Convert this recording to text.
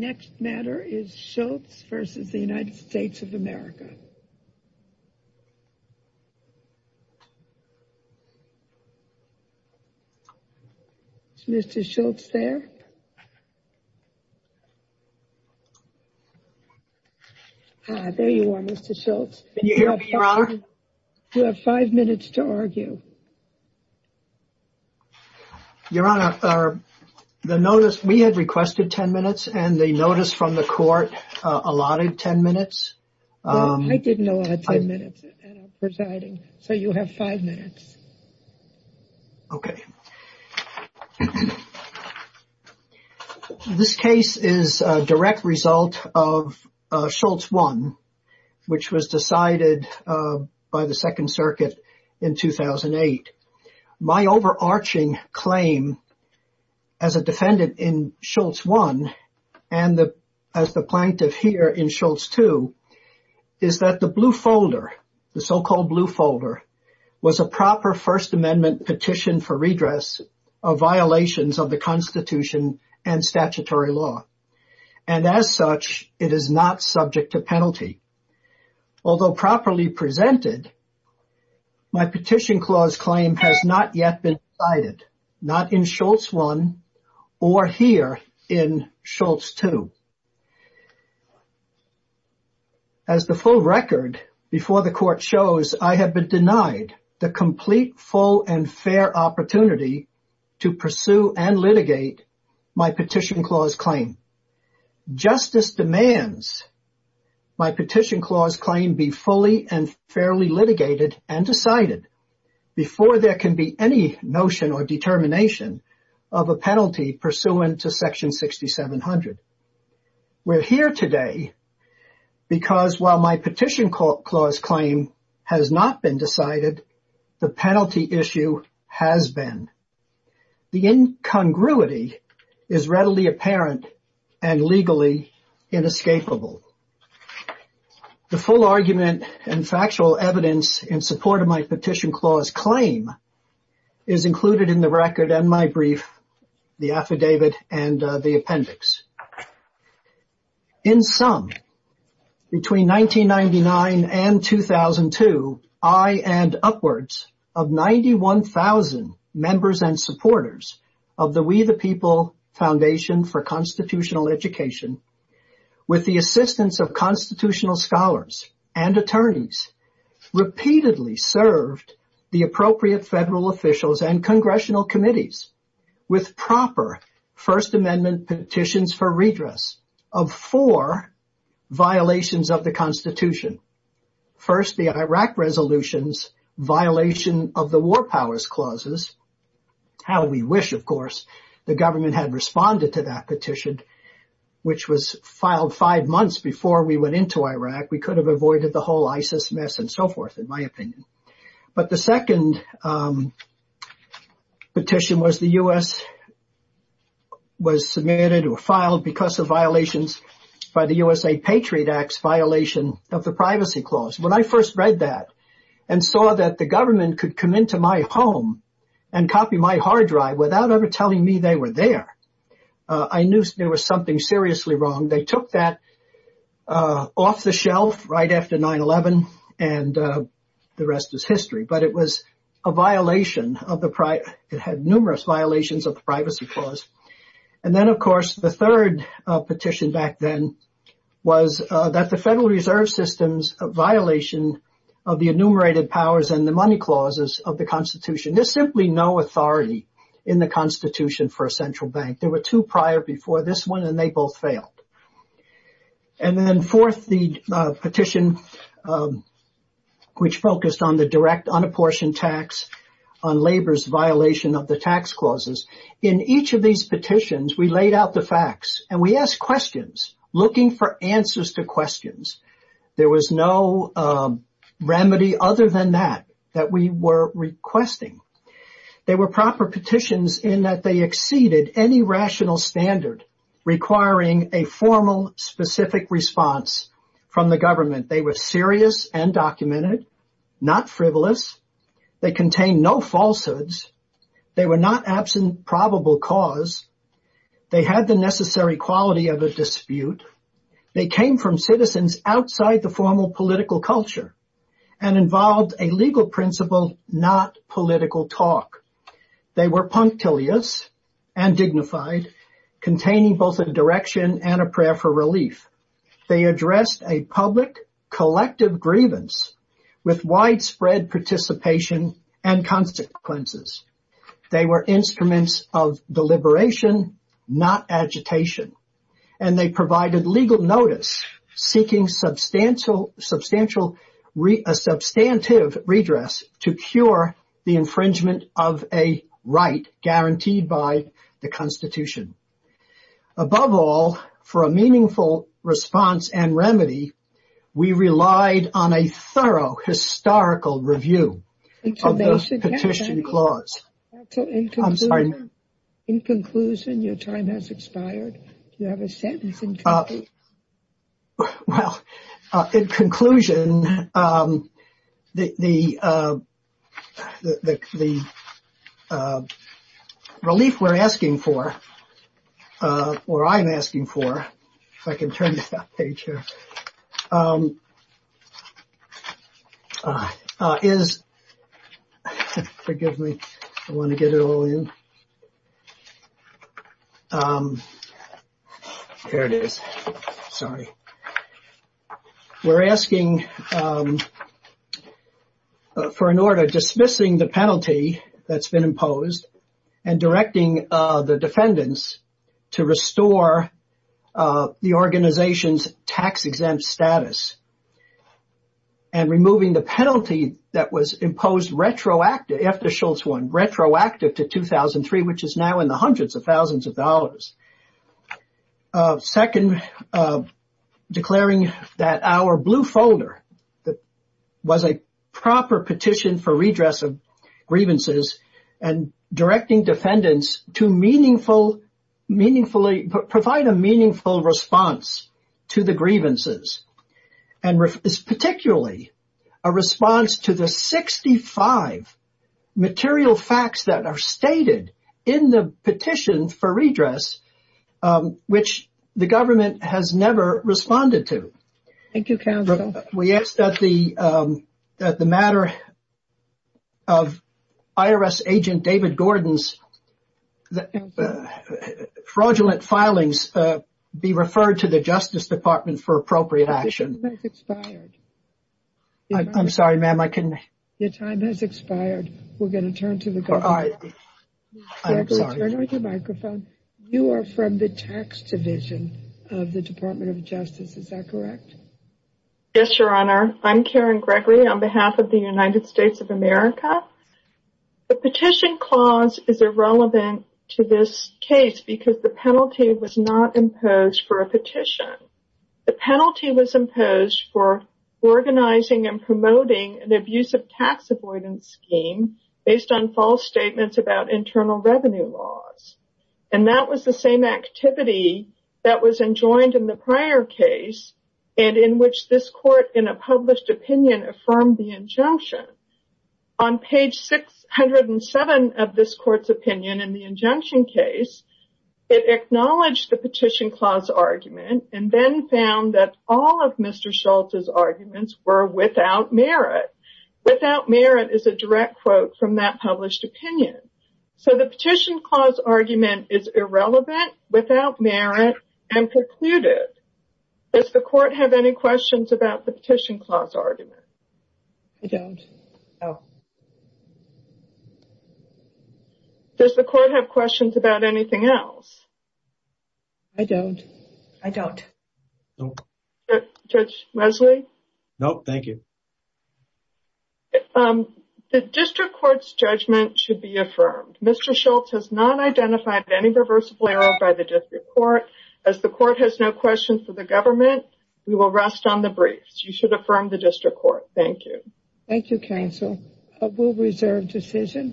next matter is Schultz v. United States of America. Is Mr. Schultz there? There you are Mr. Schultz. You have five minutes to argue. Your Honor, the notice, we had requested ten minutes and the notice from the court allotted ten minutes. I didn't know I had ten minutes and I'm presiding, so you have five minutes. Okay. This case is a direct result of Schultz 1, which was decided by the Second Amendment Petition for Redress. The difference between Schultz 1 and the as the plaintiff here in Schultz 2 is that the blue folder, the so-called blue folder, was a proper First Amendment petition for redress of violations of the Constitution and statutory law. And as such, it is not subject to penalty. Although properly presented, my petition clause claim has not yet been decided. Not in Schultz 1 or here in Schultz 2, but in Schultz 1 and Schultz 2, and it is not subject to penalty. As the full record before the court shows, I have been denied the complete, full, and fair opportunity to pursue and litigate my petition clause claim. Justice demands my petition clause claim be fully and fairly litigated and decided before there can be any notion or determination of a penalty pursuant to Section 66 of the United States Constitution. And this was not the case in Schultz 1. We're here today because, while my petition clause claim has not been decided, the penalty issue has been. The incongruity is readily apparent and legally inescapable. The full argument and factual evidence in support of my petition clause claim is included in the record and my brief, the affidavit, and the appendix. In sum, between 1999 and 2002, I and upwards of 91,000 members and supporters of the We the People Foundation for Constitutional Education, with the assistance of constitutional scholars and attorneys, repeatedly served the appropriate federal officials and congressional committees with proper First Amendment petitions for redress of four violations of the Constitution. First, the Iraq Resolution's violation of the War Powers Clauses, how we wish, of course, the government had responded to that petition, which was filed five months before we went into Iraq. We could have avoided the whole ISIS mess and so forth, in my opinion. But the second petition was the U.S. was submitted or filed because of violations by the USAID Patriot Act's violation of the Privacy Clause. When I first read that and saw that the government could come into my home and copy my hard drive without ever telling me they were there, I knew there was something seriously wrong. They took that off the shelf right after 9-11 and the rest is history. But it was a violation of the price. It had numerous violations of the Privacy Clause. And then, of course, the third petition back then was that the Federal Reserve System's violation of the enumerated powers and the money clauses of the Constitution. There's simply no authority in the Constitution for a central bank. There were two prior before this one and they both failed. And then fourth, the petition which focused on the direct unapportioned tax on labor's violation of the tax clauses. In each of these petitions, we laid out the facts and we asked questions looking for answers to questions. There was no remedy other than that, that we were requesting. They were proper petitions in that they exceeded any rational standard requiring a formal, specific response from the government. They were serious and documented, not frivolous. They contained no falsehoods. They were not absent probable cause. They had the necessary quality of a dispute. They came from citizens outside the formal political culture and involved a legal principle, not political talk. They were punctilious and dignified, containing both a direction and a prayer for relief. They addressed a public collective grievance with widespread participation and consequences. They were instruments of deliberation, not agitation. And they provided legal notice seeking substantial, a substantive redress to cure the infringement of a right guaranteed by the Constitution. Above all, for a meaningful response and remedy, we relied on a thorough historical review of the petition clause. I'm sorry. In conclusion, your time has expired. You have a sentence. Well, in conclusion, the relief we're asking for or I'm asking for. If I can turn the page here. Forgive me. I want to get it all in. There it is. Sorry. We're asking for an order dismissing the penalty that's been imposed and directing the defendants to restore the organization's tax exempt status. And removing the penalty that was imposed retroactive after Schultz won, retroactive to 2003, which is now in the hundreds of thousands of dollars. Second, declaring that our blue folder that was a proper petition for redress of grievances and directing defendants to meaningful meaningfully provide a meaningful response to the grievances. And is particularly a response to the 65 material facts that are stated in the petition for redress, which the government has never responded to. Thank you, counsel. We asked that the that the matter of IRS agent David Gordon's fraudulent filings be referred to the Justice Department for appropriate action. It's expired. I'm sorry, ma'am, I can. Your time has expired. We're going to turn to the. I'm sorry. You are from the tax division of the Department of Justice. Is that correct? Yes, Your Honor. I'm Karen Gregory on behalf of the United States of America. The petition clause is irrelevant to this case because the penalty was not imposed for a petition. The penalty was imposed for organizing and promoting an abusive tax avoidance scheme based on false statements about internal revenue laws. And that was the same activity that was enjoined in the prior case and in which this court in a published opinion affirmed the injunction. On page 607 of this court's opinion in the injunction case, it acknowledged the petition clause argument and then found that all of Mr. Schultz's arguments were without merit. Without merit is a direct quote from that published opinion. So the petition clause argument is irrelevant, without merit and precluded. Does the court have any questions about the petition clause argument? I don't know. Does the court have questions about anything else? I don't. I don't know. Judge Wesley. No, thank you. The district court's judgment should be affirmed. Mr. Schultz has not identified any reversible error by the district court as the court has no questions for the government. We will rest on the briefs. You should affirm the district court. Thank you. Thank you, counsel. I will reserve decision.